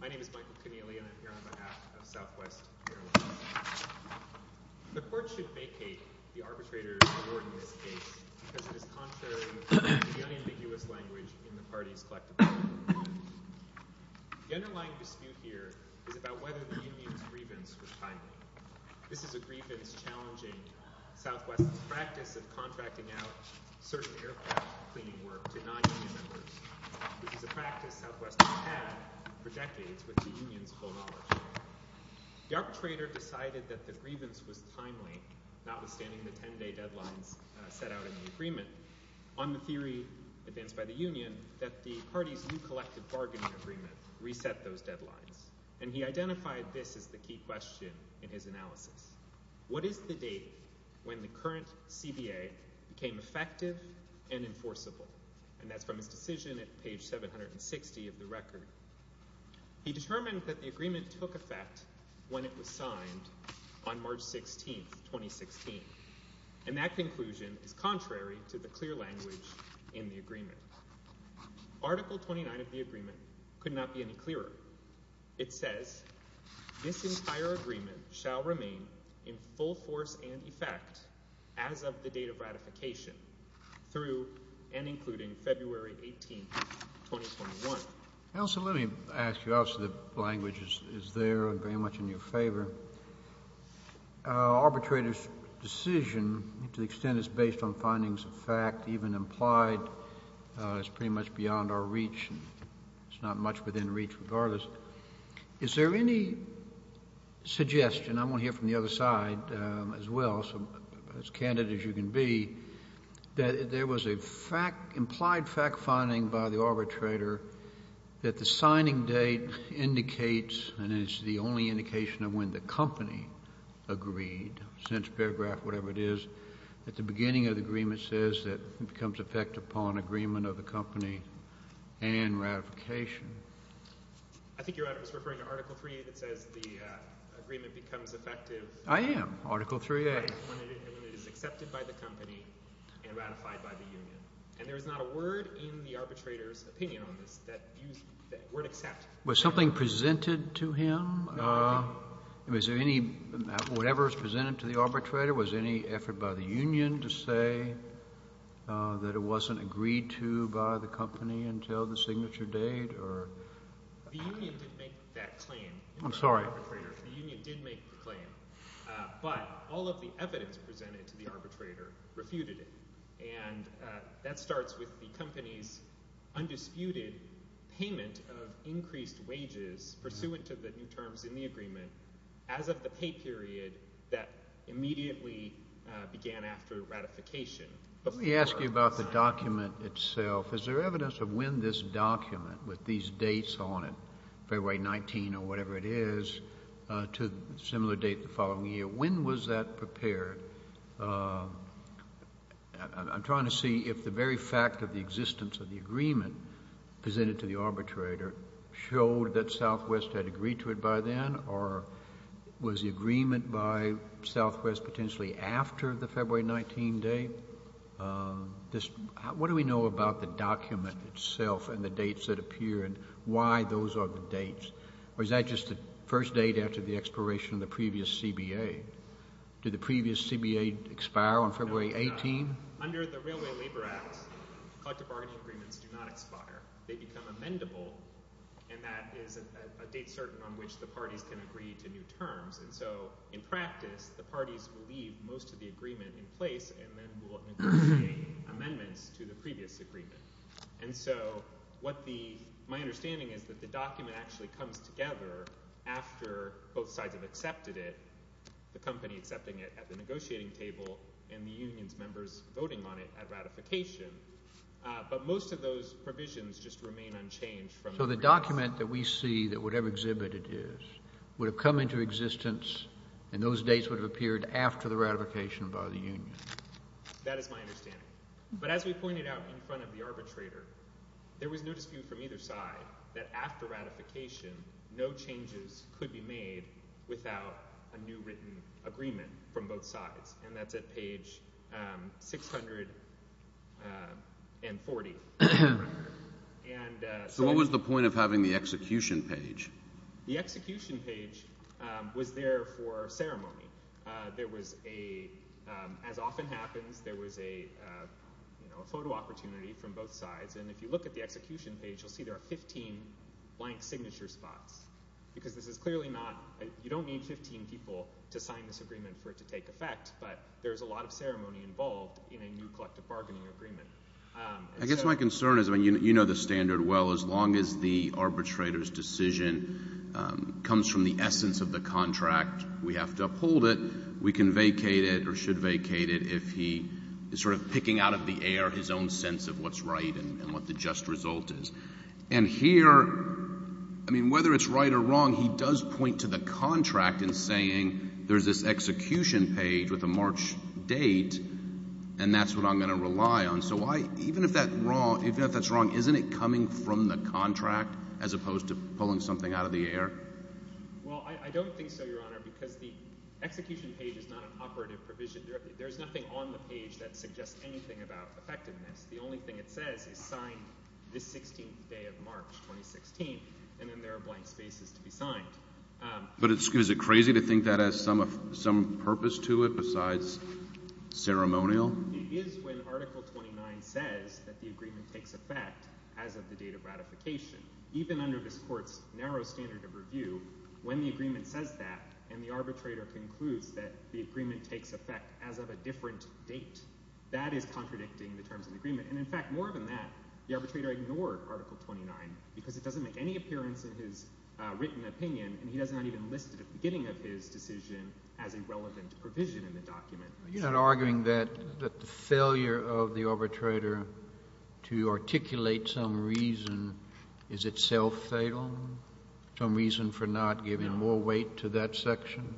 My name is Michael Connealy and I'm here on behalf of Southwest Airlines. The court should vacate the arbitrator's award in this case because it is contrary to the unambiguous language in the party's collective argument. The underlying dispute here is about whether the union's grievance was timely. This is a grievance challenging Southwest's practice of contracting out certain aircraft cleaning work to non-union members. This is a practice Southwest has had for decades with the union's full knowledge. The arbitrator decided that the grievance was timely, notwithstanding the 10-day deadlines set out in the agreement. On the theory advanced by the union, that the party's new collective bargaining agreement reset those deadlines. And he identified this as the key question in his analysis. What is the date when the current CBA became effective and enforceable? And that's from his decision at page 760 of the record. He determined that the agreement took effect when it was signed on March 16, 2016. And that conclusion is contrary to the clear language in the agreement. Article 29 of the agreement could not be any clearer. It says this entire agreement shall remain in full force and effect as of the date of ratification through and including February 18, 2021. Also, let me ask you, obviously, the language is there and very much in your favor. Arbitrator's decision to the extent is based on findings of fact, even implied, is pretty much beyond our reach. It's not much within reach regardless. Is there any suggestion, I want to hear from the other side as well, as candid as you can be, that there was an implied fact finding by the arbitrator that the signing date indicates, and it's the only indication of when the company agreed, since paragraph whatever it is, at the beginning of the agreement says that it becomes effective upon agreement of the company and ratification. I think you're referring to Article 3 that says the agreement becomes effective. I am. Article 3A. When it is accepted by the company and ratified by the union. And there is not a word in the arbitrator's opinion on this that you would accept. Was something presented to him? No. Whatever was presented to the arbitrator, was there any effort by the union to say that it wasn't agreed to by the company until the signature date? The union didn't make that claim. I'm sorry. The union did make the claim. But all of the evidence presented to the arbitrator refuted it. And that starts with the company's undisputed payment of increased wages pursuant to the new terms in the agreement as of the pay period that immediately began after ratification. Let me ask you about the document itself. Is there evidence of when this document with these dates on it, February 19 or whatever it is, to a similar date the following year, when was that prepared? I'm trying to see if the very fact of the existence of the agreement presented to the arbitrator showed that Southwest had agreed to it by then, or was the agreement by Southwest potentially after the February 19 date? What do we know about the document itself and the dates that appear and why those are the dates? Or is that just the first date after the expiration of the previous CBA? Did the previous CBA expire on February 18? Under the Railway Labor Act, collective bargaining agreements do not expire. They become amendable, and that is a date certain on which the parties can agree to new terms. And so in practice, the parties will leave most of the agreement in place and then will negotiate amendments to the previous agreement. And so my understanding is that the document actually comes together after both sides have accepted it, the company accepting it at the negotiating table and the union's members voting on it at ratification. But most of those provisions just remain unchanged. So the document that we see, whatever exhibit it is, would have come into existence and those dates would have appeared after the ratification by the union. That is my understanding. But as we pointed out in front of the arbitrator, there was no dispute from either side that after ratification, no changes could be made without a new written agreement from both sides, and that's at page 640. So what was the point of having the execution page? The execution page was there for ceremony. There was a, as often happens, there was a photo opportunity from both sides, and if you look at the execution page, you'll see there are 15 blank signature spots because this is clearly not, you don't need 15 people to sign this agreement for it to take effect, but there's a lot of ceremony involved in a new collective bargaining agreement. I guess my concern is, I mean, you know the standard well. As long as the arbitrator's decision comes from the essence of the contract, we have to uphold it. We can vacate it or should vacate it if he is sort of picking out of the air his own sense of what's right and what the just result is. And here, I mean, whether it's right or wrong, he does point to the contract in saying there's this execution page with a March date, and that's what I'm going to rely on. So even if that's wrong, isn't it coming from the contract as opposed to pulling something out of the air? Well, I don't think so, Your Honor, because the execution page is not an operative provision. There's nothing on the page that suggests anything about effectiveness. The only thing it says is sign this 16th day of March, 2016, and then there are blank spaces to be signed. But is it crazy to think that has some purpose to it besides ceremonial? It is when Article 29 says that the agreement takes effect as of the date of ratification. Even under this court's narrow standard of review, when the agreement says that and the arbitrator concludes that the agreement takes effect as of a different date, that is contradicting the terms of the agreement. And, in fact, more than that, the arbitrator ignored Article 29 because it doesn't make any appearance in his written opinion, and he does not even list the beginning of his decision as a relevant provision in the document. You're not arguing that the failure of the arbitrator to articulate some reason is itself fatal, some reason for not giving more weight to that section?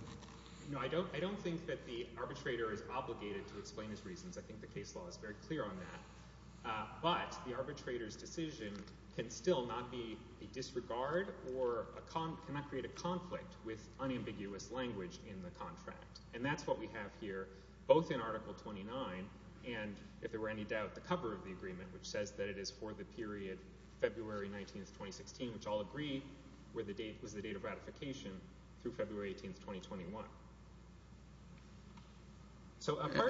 No, I don't think that the arbitrator is obligated to explain his reasons. I think the case law is very clear on that. But the arbitrator's decision can still not be a disregard or cannot create a conflict with unambiguous language in the contract. And that's what we have here, both in Article 29 and, if there were any doubt, the cover of the agreement, which says that it is for the period February 19th, 2016, which I'll agree was the date of ratification through February 18th, 2021.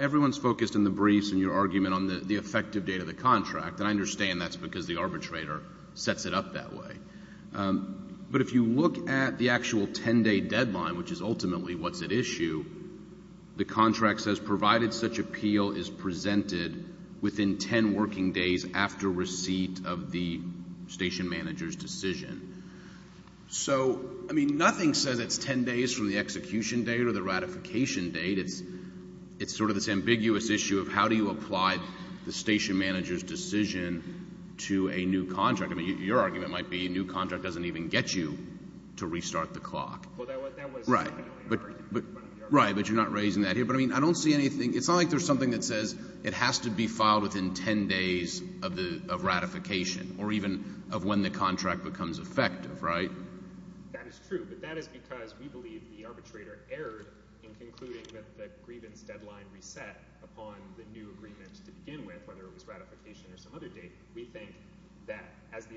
Everyone's focused in the briefs in your argument on the effective date of the contract, and I understand that's because the arbitrator sets it up that way. But if you look at the actual 10-day deadline, which is ultimately what's at issue, the contract says provided such appeal is presented within 10 working days after receipt of the station manager's decision. So, I mean, nothing says it's 10 days from the execution date or the ratification date. It's sort of this ambiguous issue of how do you apply the station manager's decision to a new contract. I mean, your argument might be a new contract doesn't even get you to restart the clock. Right, but you're not raising that here. But, I mean, I don't see anything. It's not like there's something that says it has to be filed within 10 days of ratification or even of when the contract becomes effective, right? That is true, but that is because we believe the arbitrator erred in concluding that the grievance deadline reset upon the new agreement to begin with, whether it was ratification or some other date. We think that as the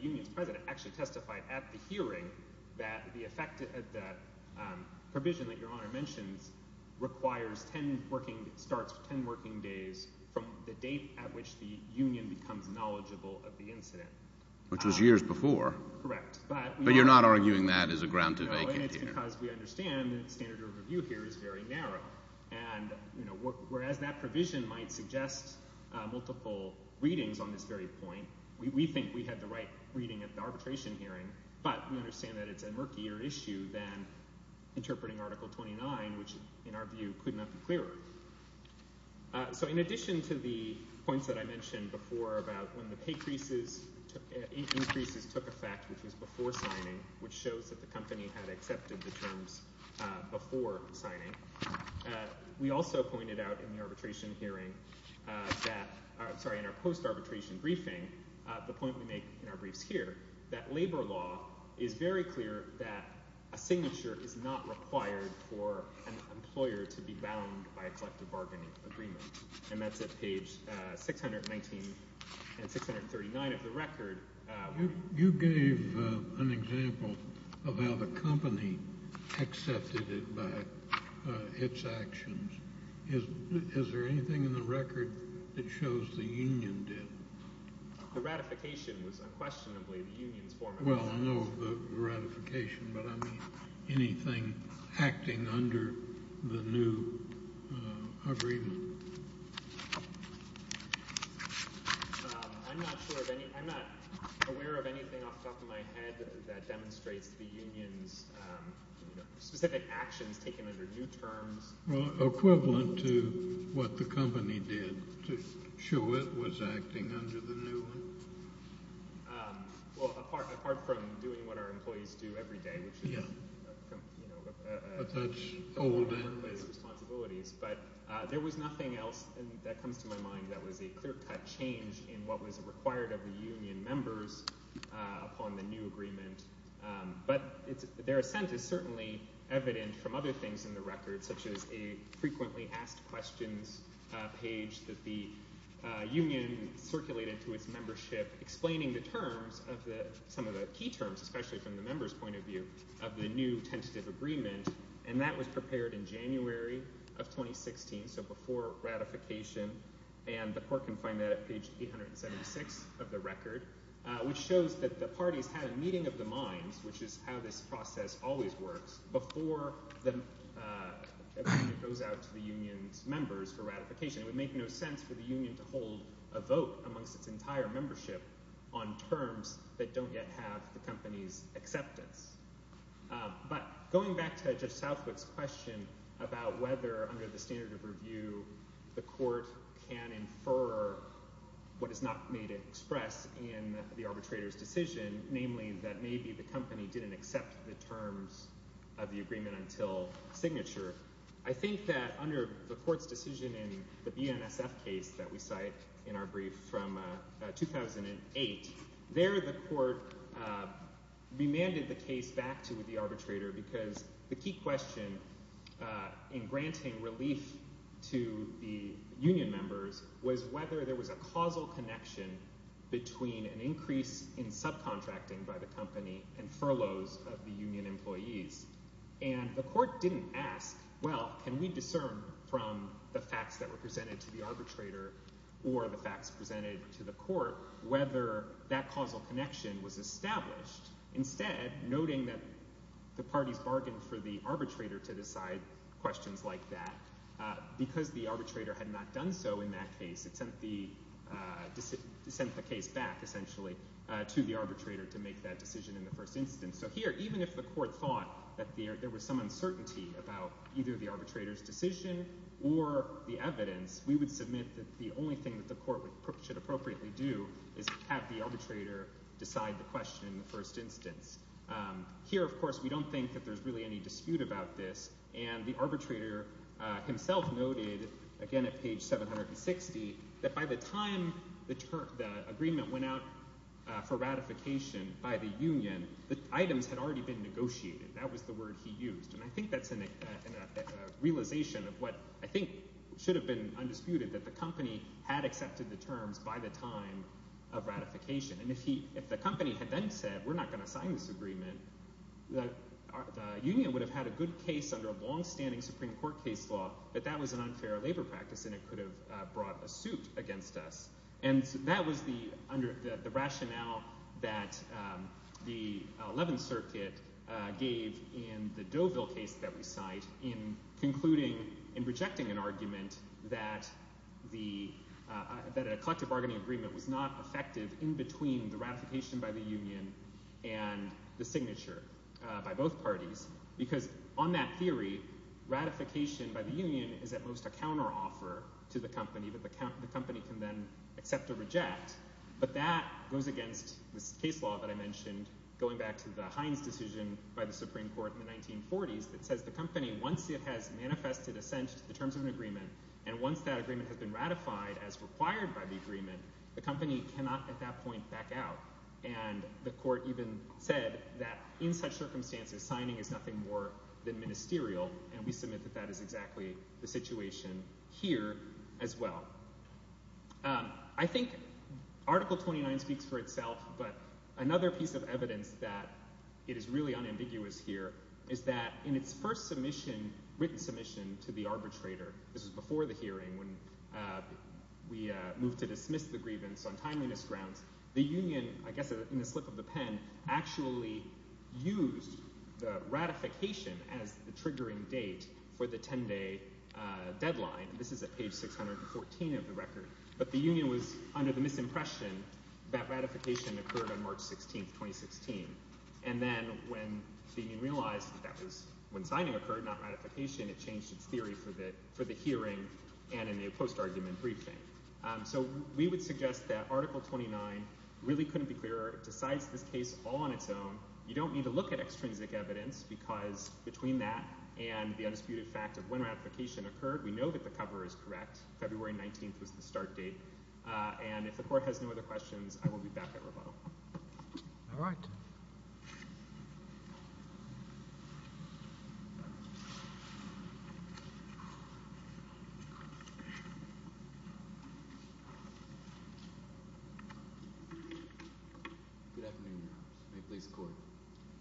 union's president actually testified at the hearing that the provision that Your Honor mentions requires 10 working – starts with 10 working days from the date at which the union becomes knowledgeable of the incident. Which was years before. Correct. But you're not arguing that as a ground to vacate here. No, and it's because we understand the standard of review here is very narrow. And, you know, whereas that provision might suggest multiple readings on this very point, we think we had the right reading at the arbitration hearing. But we understand that it's a murkier issue than interpreting Article 29, which in our view could not be clearer. So in addition to the points that I mentioned before about when the increases took effect, which was before signing, which shows that the company had accepted the terms before signing, we also pointed out in the arbitration hearing that – sorry, in our post-arbitration briefing, the point we make in our briefs here, that labor law is very clear that a signature is not required for an employer to be bound by a collective bargaining agreement. And that's at page 619 and 639 of the record. You gave an example of how the company accepted it by its actions. Is there anything in the record that shows the union did? The ratification was unquestionably the union's format. Well, I know the ratification, but I mean anything acting under the new agreement. I'm not sure of any – I'm not aware of anything off the top of my head that demonstrates the union's specific actions taken under new terms. Well, equivalent to what the company did to show it was acting under the new one? Well, apart from doing what our employees do every day, which is – But that's old. But there was nothing else that comes to my mind that was a clear-cut change in what was required of the union members upon the new agreement. But their assent is certainly evident from other things in the record, such as a frequently asked questions page that the union circulated to its membership, explaining the terms of the – some of the key terms, especially from the members' point of view, of the new tentative agreement. And that was prepared in January of 2016, so before ratification, and the court can find that at page 876 of the record, which shows that the parties had a meeting of the minds, which is how this process always works, before the agreement goes out to the union's members for ratification. It would make no sense for the union to hold a vote amongst its entire membership on terms that don't yet have the company's acceptance. But going back to Judge Southwick's question about whether, under the standard of review, the court can infer what is not made express in the arbitrator's decision, namely that maybe the company didn't accept the terms of the agreement until signature, I think that under the court's decision in the BNSF case that we cite in our brief from 2008, there the court remanded the case back to the arbitrator because the key question in granting relief to the union members was whether there was a causal connection between an increase in subcontracting by the company and furloughs of the union employees. And the court didn't ask, well, can we discern from the facts that were presented to the arbitrator or the facts presented to the court whether that causal connection was established? Instead, noting that the parties bargained for the arbitrator to decide questions like that, because the arbitrator had not done so in that case, it sent the case back, essentially, to the arbitrator to make that decision in the first instance. So here, even if the court thought that there was some uncertainty about either the arbitrator's decision or the evidence, we would submit that the only thing that the court should appropriately do is have the arbitrator decide the question in the first instance. Here, of course, we don't think that there's really any dispute about this, and the arbitrator himself noted, again at page 760, that by the time the agreement went out for ratification by the union, the items had already been negotiated. That was the word he used. And I think that's a realization of what I think should have been undisputed, that the company had accepted the terms by the time of ratification. And if the company had then said, we're not going to sign this agreement, the union would have had a good case under a longstanding Supreme Court case law that that was an unfair labor practice and it could have brought a suit against us. And that was the rationale that the Eleventh Circuit gave in the Deauville case that we cite in concluding and rejecting an argument that a collective bargaining agreement was not effective in between the ratification by the union and the signature by both parties because on that theory, ratification by the union is at most a counteroffer to the company, that the company can then accept or reject. But that goes against this case law that I mentioned going back to the Hines decision by the Supreme Court in the 1940s that says the company, once it has manifested assent to the terms of an agreement, and once that agreement has been ratified as required by the agreement, the company cannot at that point back out. And the court even said that in such circumstances, signing is nothing more than ministerial, and we submit that that is exactly the situation here as well. I think Article 29 speaks for itself, but another piece of evidence that it is really unambiguous here is that in its first submission, written submission to the arbitrator, this was before the hearing when we moved to dismiss the grievance on timeliness grounds, the union, I guess in the slip of the pen, actually used the ratification as the triggering date for the 10-day deadline. This is at page 614 of the record. But the union was under the misimpression that ratification occurred on March 16, 2016. And then when the union realized that that was when signing occurred, not ratification, it changed its theory for the hearing and in the post-argument briefing. So we would suggest that Article 29 really couldn't be clearer. It decides this case all on its own. You don't need to look at extrinsic evidence because between that and the undisputed fact of when ratification occurred, we know that the cover is correct. February 19th was the start date. And if the court has no other questions, I will be back at rebuttal. All right. Good afternoon, Your Honor. May it please the court.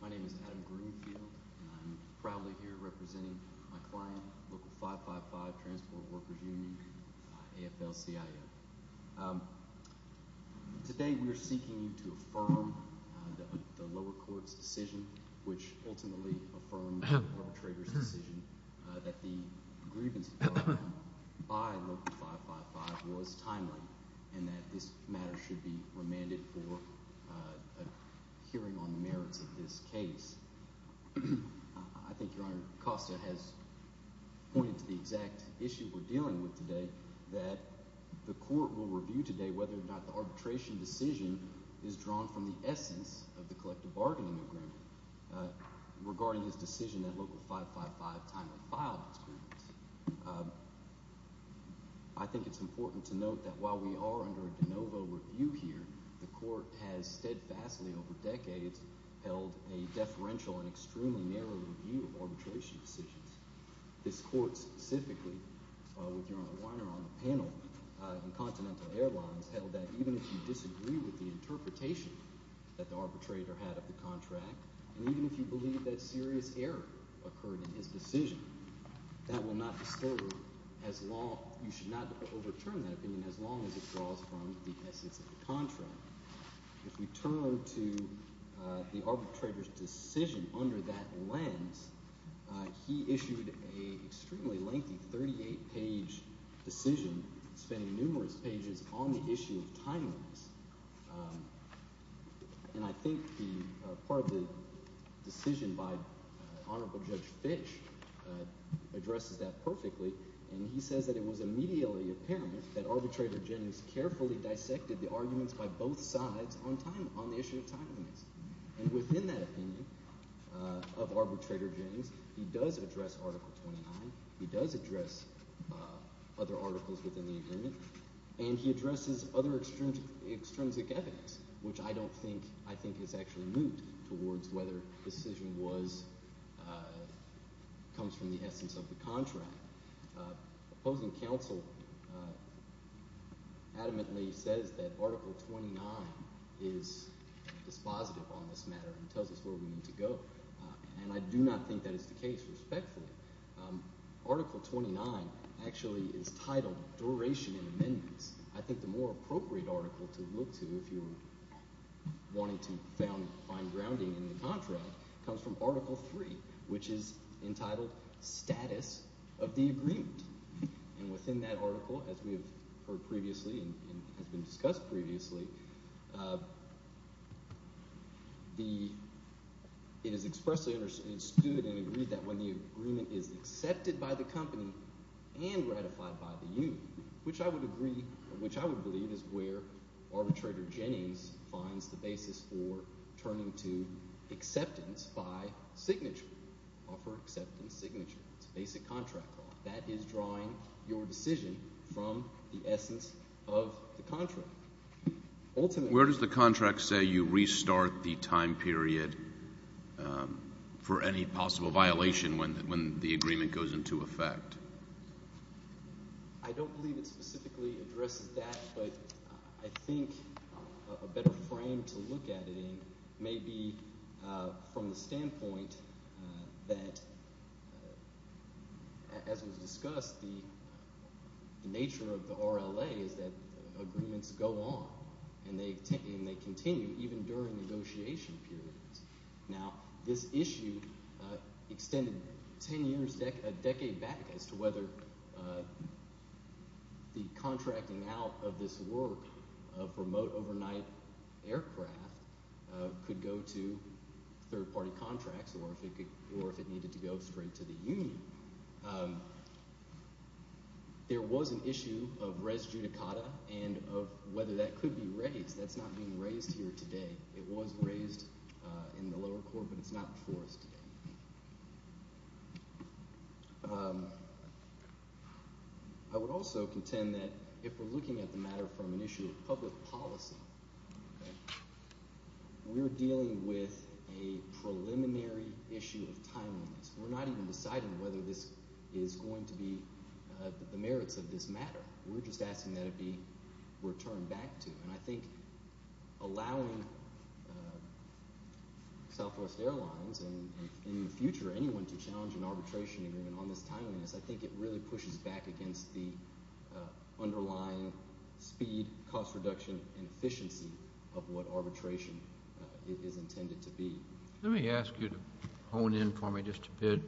My name is Adam Greenfield, and I'm proudly here representing my client, Local 555 Transport Workers Union, AFL-CIO. Today we are seeking to affirm the lower court's decision, which ultimately affirmed the arbitrator's decision, that the grievance by Local 555 was timely and that this matter should be remanded for a hearing on the merits of this case. I think Your Honor, Costa has pointed to the exact issue we're dealing with today, that the court will review today whether or not the arbitration decision is drawn from the essence of the collective bargaining agreement regarding his decision that Local 555 timely filed its grievance. I think it's important to note that while we are under a de novo review here, the court has steadfastly over decades held a deferential and extremely narrow review of arbitration decisions. This court specifically, with Your Honor Weiner on the panel in Continental Airlines, held that even if you disagree with the interpretation that the arbitrator had of the contract, and even if you believe that serious error occurred in his decision, you should not overturn that opinion as long as it draws from the essence of the contract. If we turn to the arbitrator's decision under that lens, he issued an extremely lengthy 38-page decision, spending numerous pages on the issue of timeliness. And I think part of the decision by Honorable Judge Fish addresses that perfectly, and he says that it was immediately apparent that Arbitrator Jennings carefully dissected the arguments by both sides on the issue of timeliness. And within that opinion of Arbitrator Jennings, he does address Article 29. He does address other articles within the agreement. And he addresses other extrinsic evidence, which I don't think – I think has actually moved towards whether the decision was – comes from the essence of the contract. Opposing counsel adamantly says that Article 29 is dispositive on this matter and tells us where we need to go. And I do not think that is the case, respectfully. Article 29 actually is titled Duration and Amendments. I think the more appropriate article to look to if you're wanting to find grounding in the contract comes from Article 3, which is entitled Status of the Agreement. And within that article, as we have heard previously and has been discussed previously, the – it is expressly understood and agreed that when the agreement is accepted by the company and ratified by the union, which I would agree – which I would believe is where Arbitrator Jennings finds the basis for turning to acceptance by signature, offer acceptance signature. It's a basic contract law. That is drawing your decision from the essence of the contract. Where does the contract say you restart the time period for any possible violation when the agreement goes into effect? I don't believe it specifically addresses that, but I think a better frame to look at it in may be from the standpoint that, as was discussed, the nature of the RLA is that agreements go on and they continue even during negotiation periods. Now, this issue extended ten years – a decade back as to whether the contracting out of this work of remote overnight aircraft could go to third-party contracts or if it needed to go straight to the union. There was an issue of res judicata and of whether that could be raised. That's not being raised here today. It was raised in the lower court, but it's not before us today. I would also contend that if we're looking at the matter from an issue of public policy, we're dealing with a preliminary issue of timeliness. We're not even deciding whether this is going to be – the merits of this matter. We're just asking that it be returned back to. And I think allowing Southwest Airlines and in the future anyone to challenge an arbitration agreement on this timeliness, I think it really pushes back against the underlying speed, cost reduction, and efficiency of what arbitration is intended to be. Let me ask you to hone in for me just a bit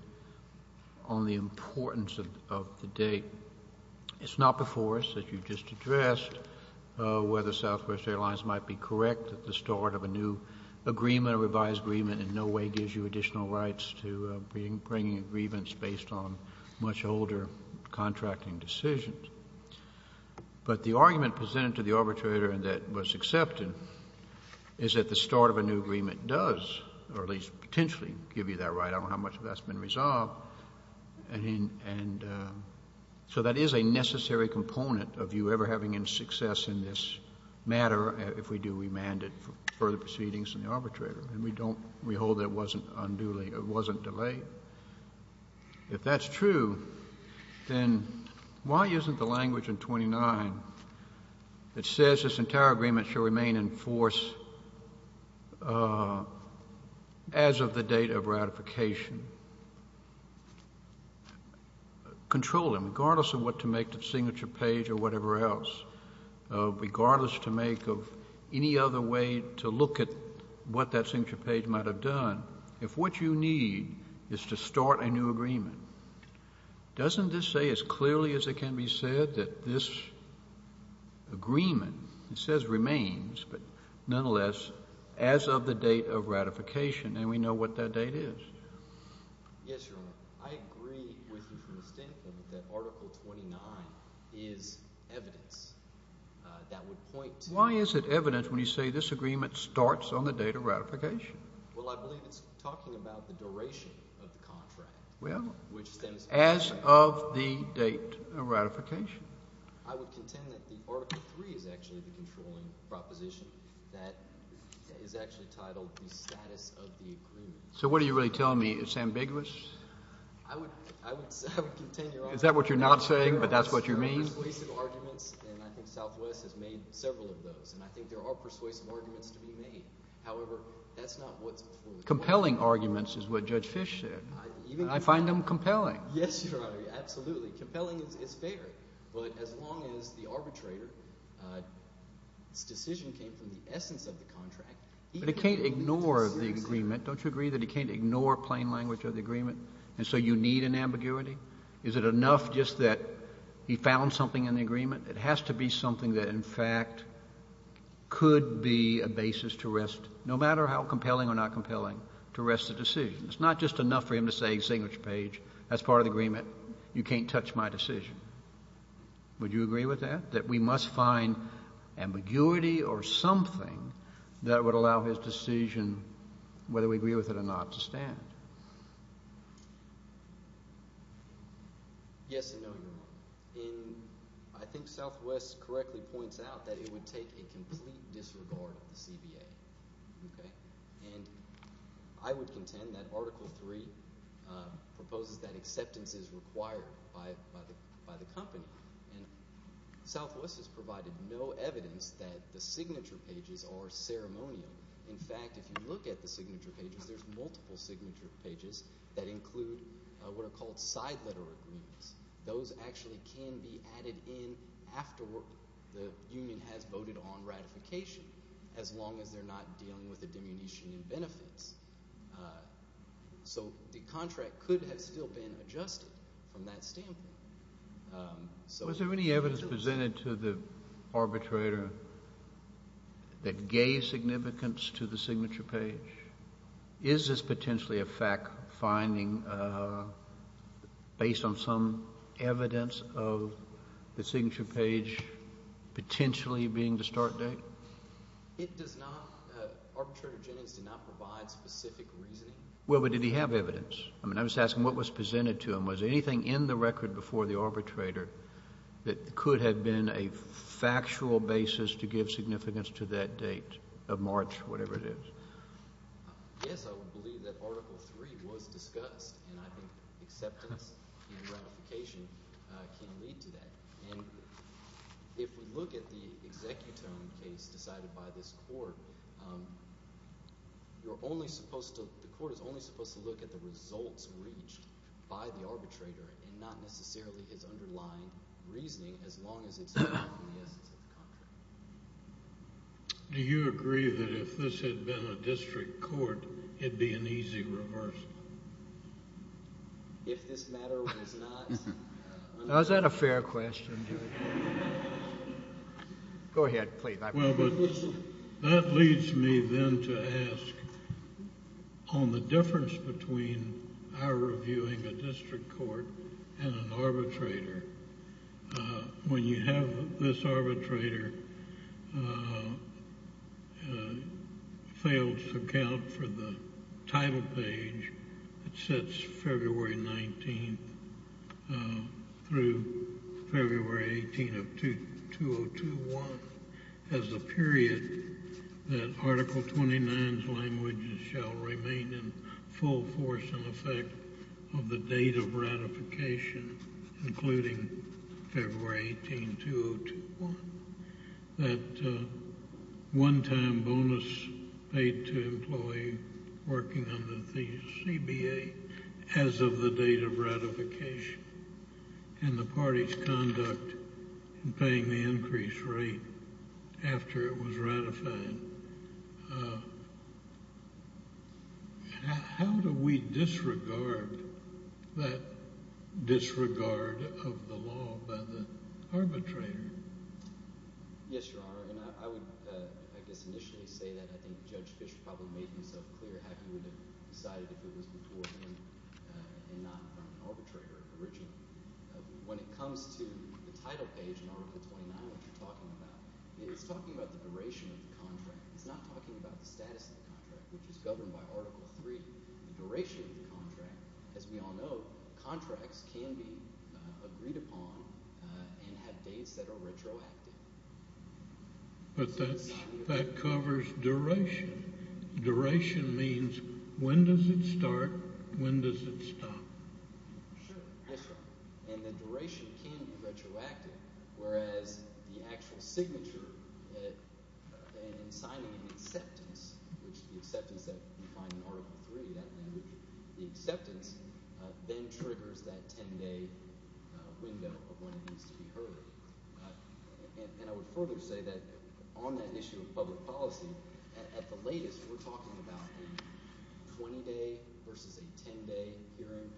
on the importance of the date. It's not before us, as you just addressed, whether Southwest Airlines might be correct at the start of a new agreement, a revised agreement in no way gives you additional rights to bringing agreements based on much older contracting decisions. But the argument presented to the arbitrator that was accepted is that the start of a new agreement does, or at least potentially, give you that right. I don't know how much of that's been resolved. And so that is a necessary component of you ever having any success in this matter if we do remand it for further proceedings in the arbitrator. And we don't – we hold that it wasn't unduly – it wasn't delayed. If that's true, then why isn't the language in 29 that says this entire agreement shall remain in force as of the date of ratification? Control it, regardless of what to make of the signature page or whatever else, regardless to make of any other way to look at what that signature page might have done. If what you need is to start a new agreement, doesn't this say as clearly as it can be said that this agreement, it says remains, but nonetheless, as of the date of ratification, and we know what that date is? Yes, Your Honor. I agree with you from the standpoint that Article 29 is evidence that would point to – Why is it evidence when you say this agreement starts on the date of ratification? Well, I believe it's talking about the duration of the contract. Well, as of the date of ratification. I would contend that the Article 3 is actually the controlling proposition that is actually titled the status of the agreement. So what are you really telling me? It's ambiguous? I would contend, Your Honor – Is that what you're not saying, but that's what you mean? There are persuasive arguments, and I think Southwest has made several of those, and I think there are persuasive arguments to be made. However, that's not what's fully – Compelling arguments is what Judge Fish said. I find them compelling. Yes, Your Honor. Absolutely. Compelling is fair, but as long as the arbitrator's decision came from the essence of the contract – But he can't ignore the agreement. Don't you agree that he can't ignore plain language of the agreement? And so you need an ambiguity? Is it enough just that he found something in the agreement? It has to be something that, in fact, could be a basis to rest – no matter how compelling or not compelling – to rest the decision. It's not just enough for him to say, Signature Page, that's part of the agreement. You can't touch my decision. Would you agree with that, that we must find ambiguity or something that would allow his decision, whether we agree with it or not, to stand? Yes and no, Your Honor. And I think Southwest correctly points out that it would take a complete disregard of the CBA. And I would contend that Article 3 proposes that acceptance is required by the company. And Southwest has provided no evidence that the signature pages are ceremonial. In fact, if you look at the signature pages, there's multiple signature pages that include what are called side letter agreements. Those actually can be added in afterward. The union has voted on ratification as long as they're not dealing with a diminution in benefits. So the contract could have still been adjusted from that standpoint. Was there any evidence presented to the arbitrator that gave significance to the signature page? Is this potentially a fact-finding based on some evidence of the signature page potentially being the start date? It does not. Arbitrator Jennings did not provide specific reasoning. Well, but did he have evidence? I mean, I was asking what was presented to him. Was there anything in the record before the arbitrator that could have been a factual basis to give significance to that date of March, whatever it is? Yes, I would believe that Article 3 was discussed, and I think acceptance and ratification can lead to that. And if we look at the executome case decided by this court, you're only supposed to – the court is only supposed to look at the results reached by the arbitrator and not necessarily his underlying reasoning as long as it's not in the essence of the contract. Do you agree that if this had been a district court, it would be an easy reverse? If this matter was not – Now, is that a fair question? Go ahead, please. Well, but that leads me then to ask on the difference between our reviewing a district court and an arbitrator. When you have this arbitrator fails to account for the title page that sets February 19th through February 18th of 2021 as a period that Article 29's language shall remain in full force and effect of the date of ratification, including February 18th, 2021, that one-time bonus paid to employee working under the CBA as of the date of ratification and the party's conduct in paying the increase rate after it was ratified, how do we disregard that disregard of the law by the arbitrator? Yes, Your Honor, and I would, I guess, initially say that I think Judge Fischer probably made himself clear how he would have decided if it was before and not from an arbitrator originally. When it comes to the title page in Article 29 that you're talking about, it's talking about the duration of the contract. It's not talking about the status of the contract, which is governed by Article 3, the duration of the contract. As we all know, contracts can be agreed upon and have dates that are retroactive. But that covers duration. Duration means when does it start, when does it stop? Yes, Your Honor. And the duration can be retroactive, whereas the actual signature and signing an acceptance, which is the acceptance that you find in Article 3, that language, the acceptance, then triggers that ten-day window of when it needs to be heard. And I would further say that on that issue of public policy, at the latest, we're talking about the 20-day versus a 10-day hearing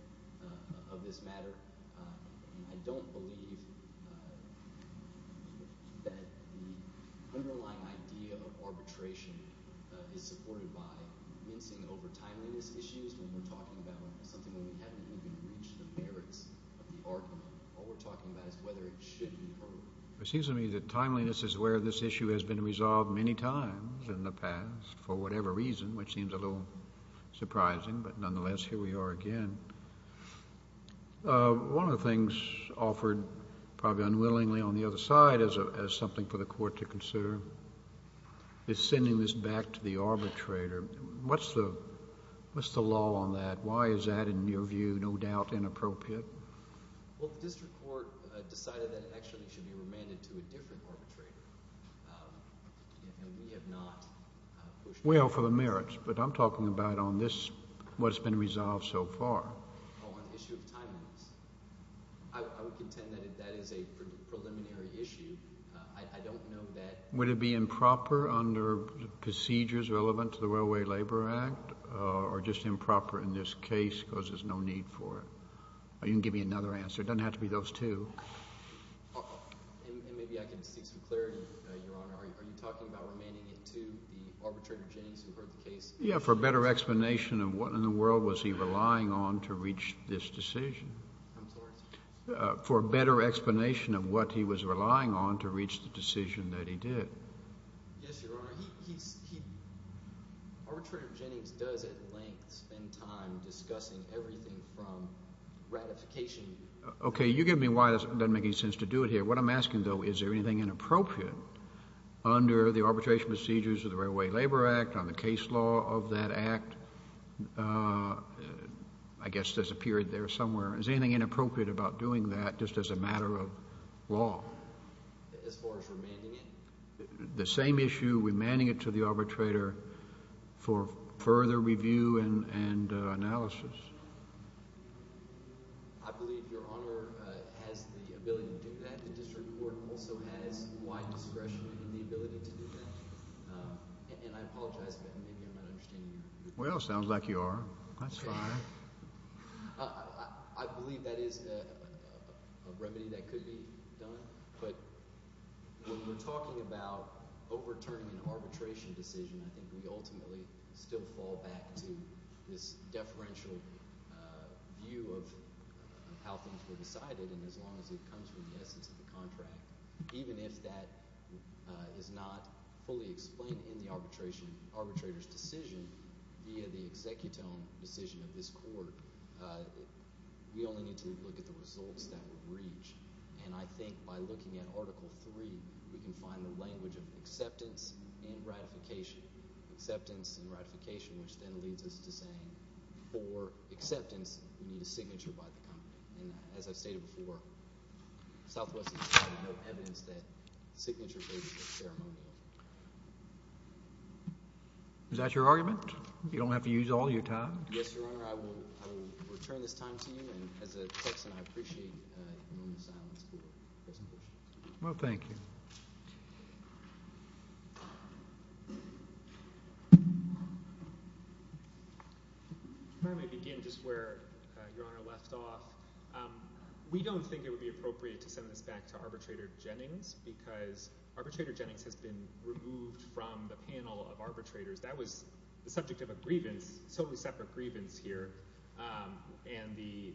of this matter. And I don't believe that the underlying idea of arbitration is supported by mincing over timeliness issues when we're talking about something when we haven't even reached the merits of the argument. All we're talking about is whether it should be heard. It seems to me that timeliness is where this issue has been resolved many times in the past for whatever reason, which seems a little surprising. But nonetheless, here we are again. One of the things offered probably unwillingly on the other side as something for the court to consider is sending this back to the arbitrator. What's the law on that? Why is that, in your view, no doubt inappropriate? Well, the district court decided that it actually should be remanded to a different arbitrator. And we have not pushed back on that. Well, for the merits. But I'm talking about on this, what's been resolved so far. On the issue of timeliness. I would contend that that is a preliminary issue. I don't know that... Would it be improper under procedures relevant to the Railway Labor Act or just improper in this case because there's no need for it? Or you can give me another answer. It doesn't have to be those two. And maybe I can seek some clarity, Your Honor. Are you talking about remanding it to the arbitrator Jennings who heard the case? Yeah, for a better explanation of what in the world was he relying on to reach this decision. I'm sorry? For a better explanation of what he was relying on to reach the decision that he did. Yes, Your Honor. Arbitrator Jennings does, at length, spend time discussing everything from ratification... Okay, you give me why it doesn't make any sense to do it here. What I'm asking, though, is there anything inappropriate under the arbitration procedures of the Railway Labor Act, on the case law of that act? I guess there's a period there somewhere. Is there anything inappropriate about doing that just as a matter of law? As far as remanding it? The same issue, remanding it to the arbitrator for further review and analysis. I believe Your Honor has the ability to do that. The district court also has wide discretion in the ability to do that. And I apologize, but maybe I'm not understanding you. Well, it sounds like you are. That's fine. I believe that is a remedy that could be done. But when we're talking about overturning an arbitration decision, I think we ultimately still fall back to this deferential view of how things were decided. And as long as it comes from the essence of the contract, even if that is not fully explained in the arbitrator's decision via the executome decision of this court, we only need to look at the results that would reach. And I think by looking at Article 3, we can find the language of acceptance and ratification. Acceptance and ratification, which then leads us to saying for acceptance, we need a signature by the company. And as I stated before, Southwest has no evidence that signatures are ceremonial. Is that your argument? You don't have to use all your time? Yes, Your Honor. Your Honor, I will return this time to you. And as a Texan, I appreciate your moment of silence for present questions. Well, thank you. If I may begin just where Your Honor left off. We don't think it would be appropriate to send this back to Arbitrator Jennings because Arbitrator Jennings has been removed from the panel of arbitrators. That was the subject of a grievance, a totally separate grievance here, and the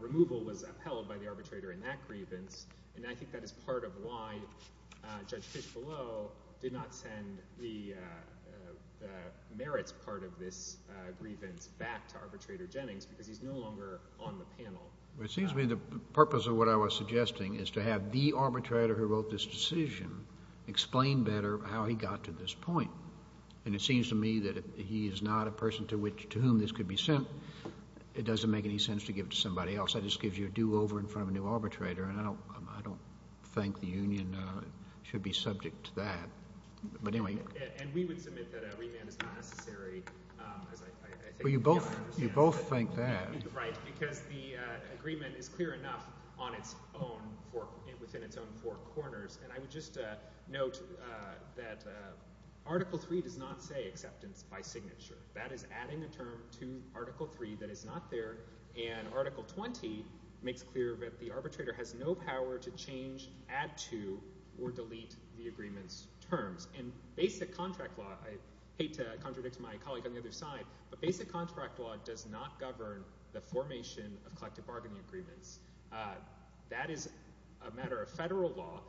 removal was upheld by the arbitrator in that grievance. And I think that is part of why Judge Fishbelow did not send the merits part of this grievance back to Arbitrator Jennings because he's no longer on the panel. Well, it seems to me the purpose of what I was suggesting is to have the arbitrator who wrote this decision explain better how he got to this point. And it seems to me that if he is not a person to whom this could be sent, it doesn't make any sense to give it to somebody else. That just gives you a do-over in front of a new arbitrator, and I don't think the union should be subject to that. But anyway. And we would submit that a remand is not necessary. Well, you both think that. Right, because the agreement is clear enough on its own, within its own four corners. And I would just note that Article 3 does not say acceptance by signature. That is adding a term to Article 3 that is not there, and Article 20 makes clear that the arbitrator has no power to change, add to, or delete the agreement's terms. And basic contract law—I hate to contradict my colleague on the other side—but basic contract law does not govern the formation of collective bargaining agreements. That is a matter of federal law.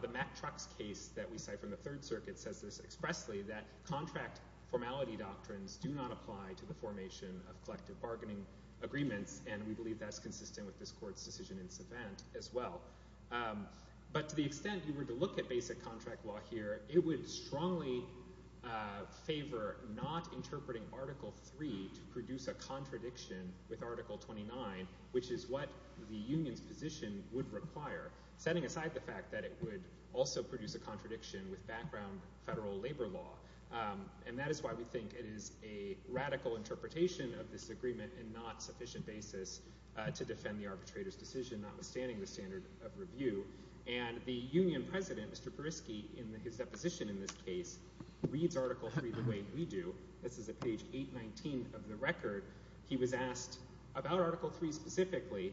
The Mack Trucks case that we cite from the Third Circuit says this expressly, that contract formality doctrines do not apply to the formation of collective bargaining agreements. And we believe that's consistent with this Court's decision in Savant as well. But to the extent you were to look at basic contract law here, it would strongly favor not interpreting Article 3 to produce a contradiction with Article 29, which is what the union's position would require, setting aside the fact that it would also produce a contradiction with background federal labor law. And that is why we think it is a radical interpretation of this agreement and not sufficient basis to defend the arbitrator's decision, notwithstanding the standard of review. And the union president, Mr. Perisky, in his deposition in this case, reads Article 3 the way we do. This is at page 819 of the record. He was asked about Article 3 specifically.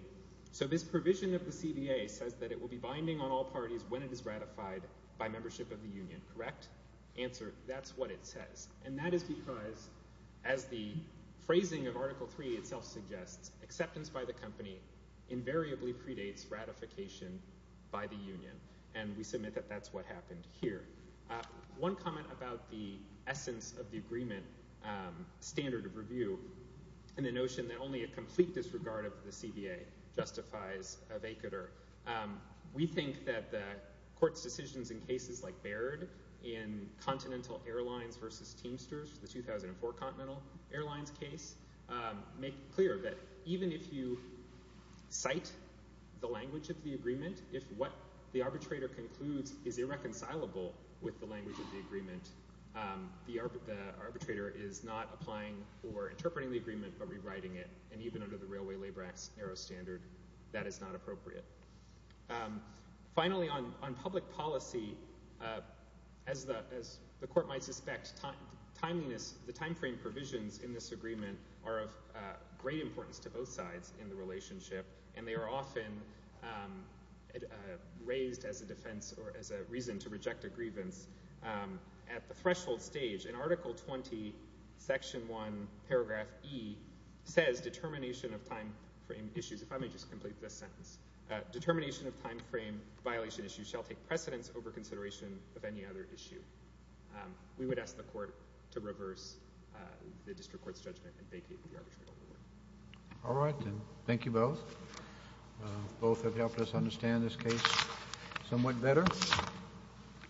So this provision of the CBA says that it will be binding on all parties when it is ratified by membership of the union, correct? That's what it says. And that is because, as the phrasing of Article 3 itself suggests, acceptance by the company invariably predates ratification by the union. And we submit that that's what happened here. One comment about the essence of the agreement standard of review and the notion that only a complete disregard of the CBA justifies a vacatur. We think that the court's decisions in cases like Baird in Continental Airlines v. Teamsters, the 2004 Continental Airlines case, make clear that even if you cite the language of the agreement, if what the arbitrator concludes is irreconcilable with the language of the agreement, the arbitrator is not applying or interpreting the agreement but rewriting it. And even under the Railway Labor Act's narrow standard, that is not appropriate. Finally, on public policy, as the court might suspect, the timeframe provisions in this agreement are of great importance to both sides in the relationship, and they are often raised as a defense or as a reason to reject a grievance. At the threshold stage, in Article 20, Section 1, Paragraph E, says determination of timeframe issues. If I may just complete this sentence. Determination of timeframe violation issues shall take precedence over consideration of any other issue. We would ask the court to reverse the district court's judgment and vacate the arbitration award. All right, then. Thank you both. Both have helped us understand this case somewhat better.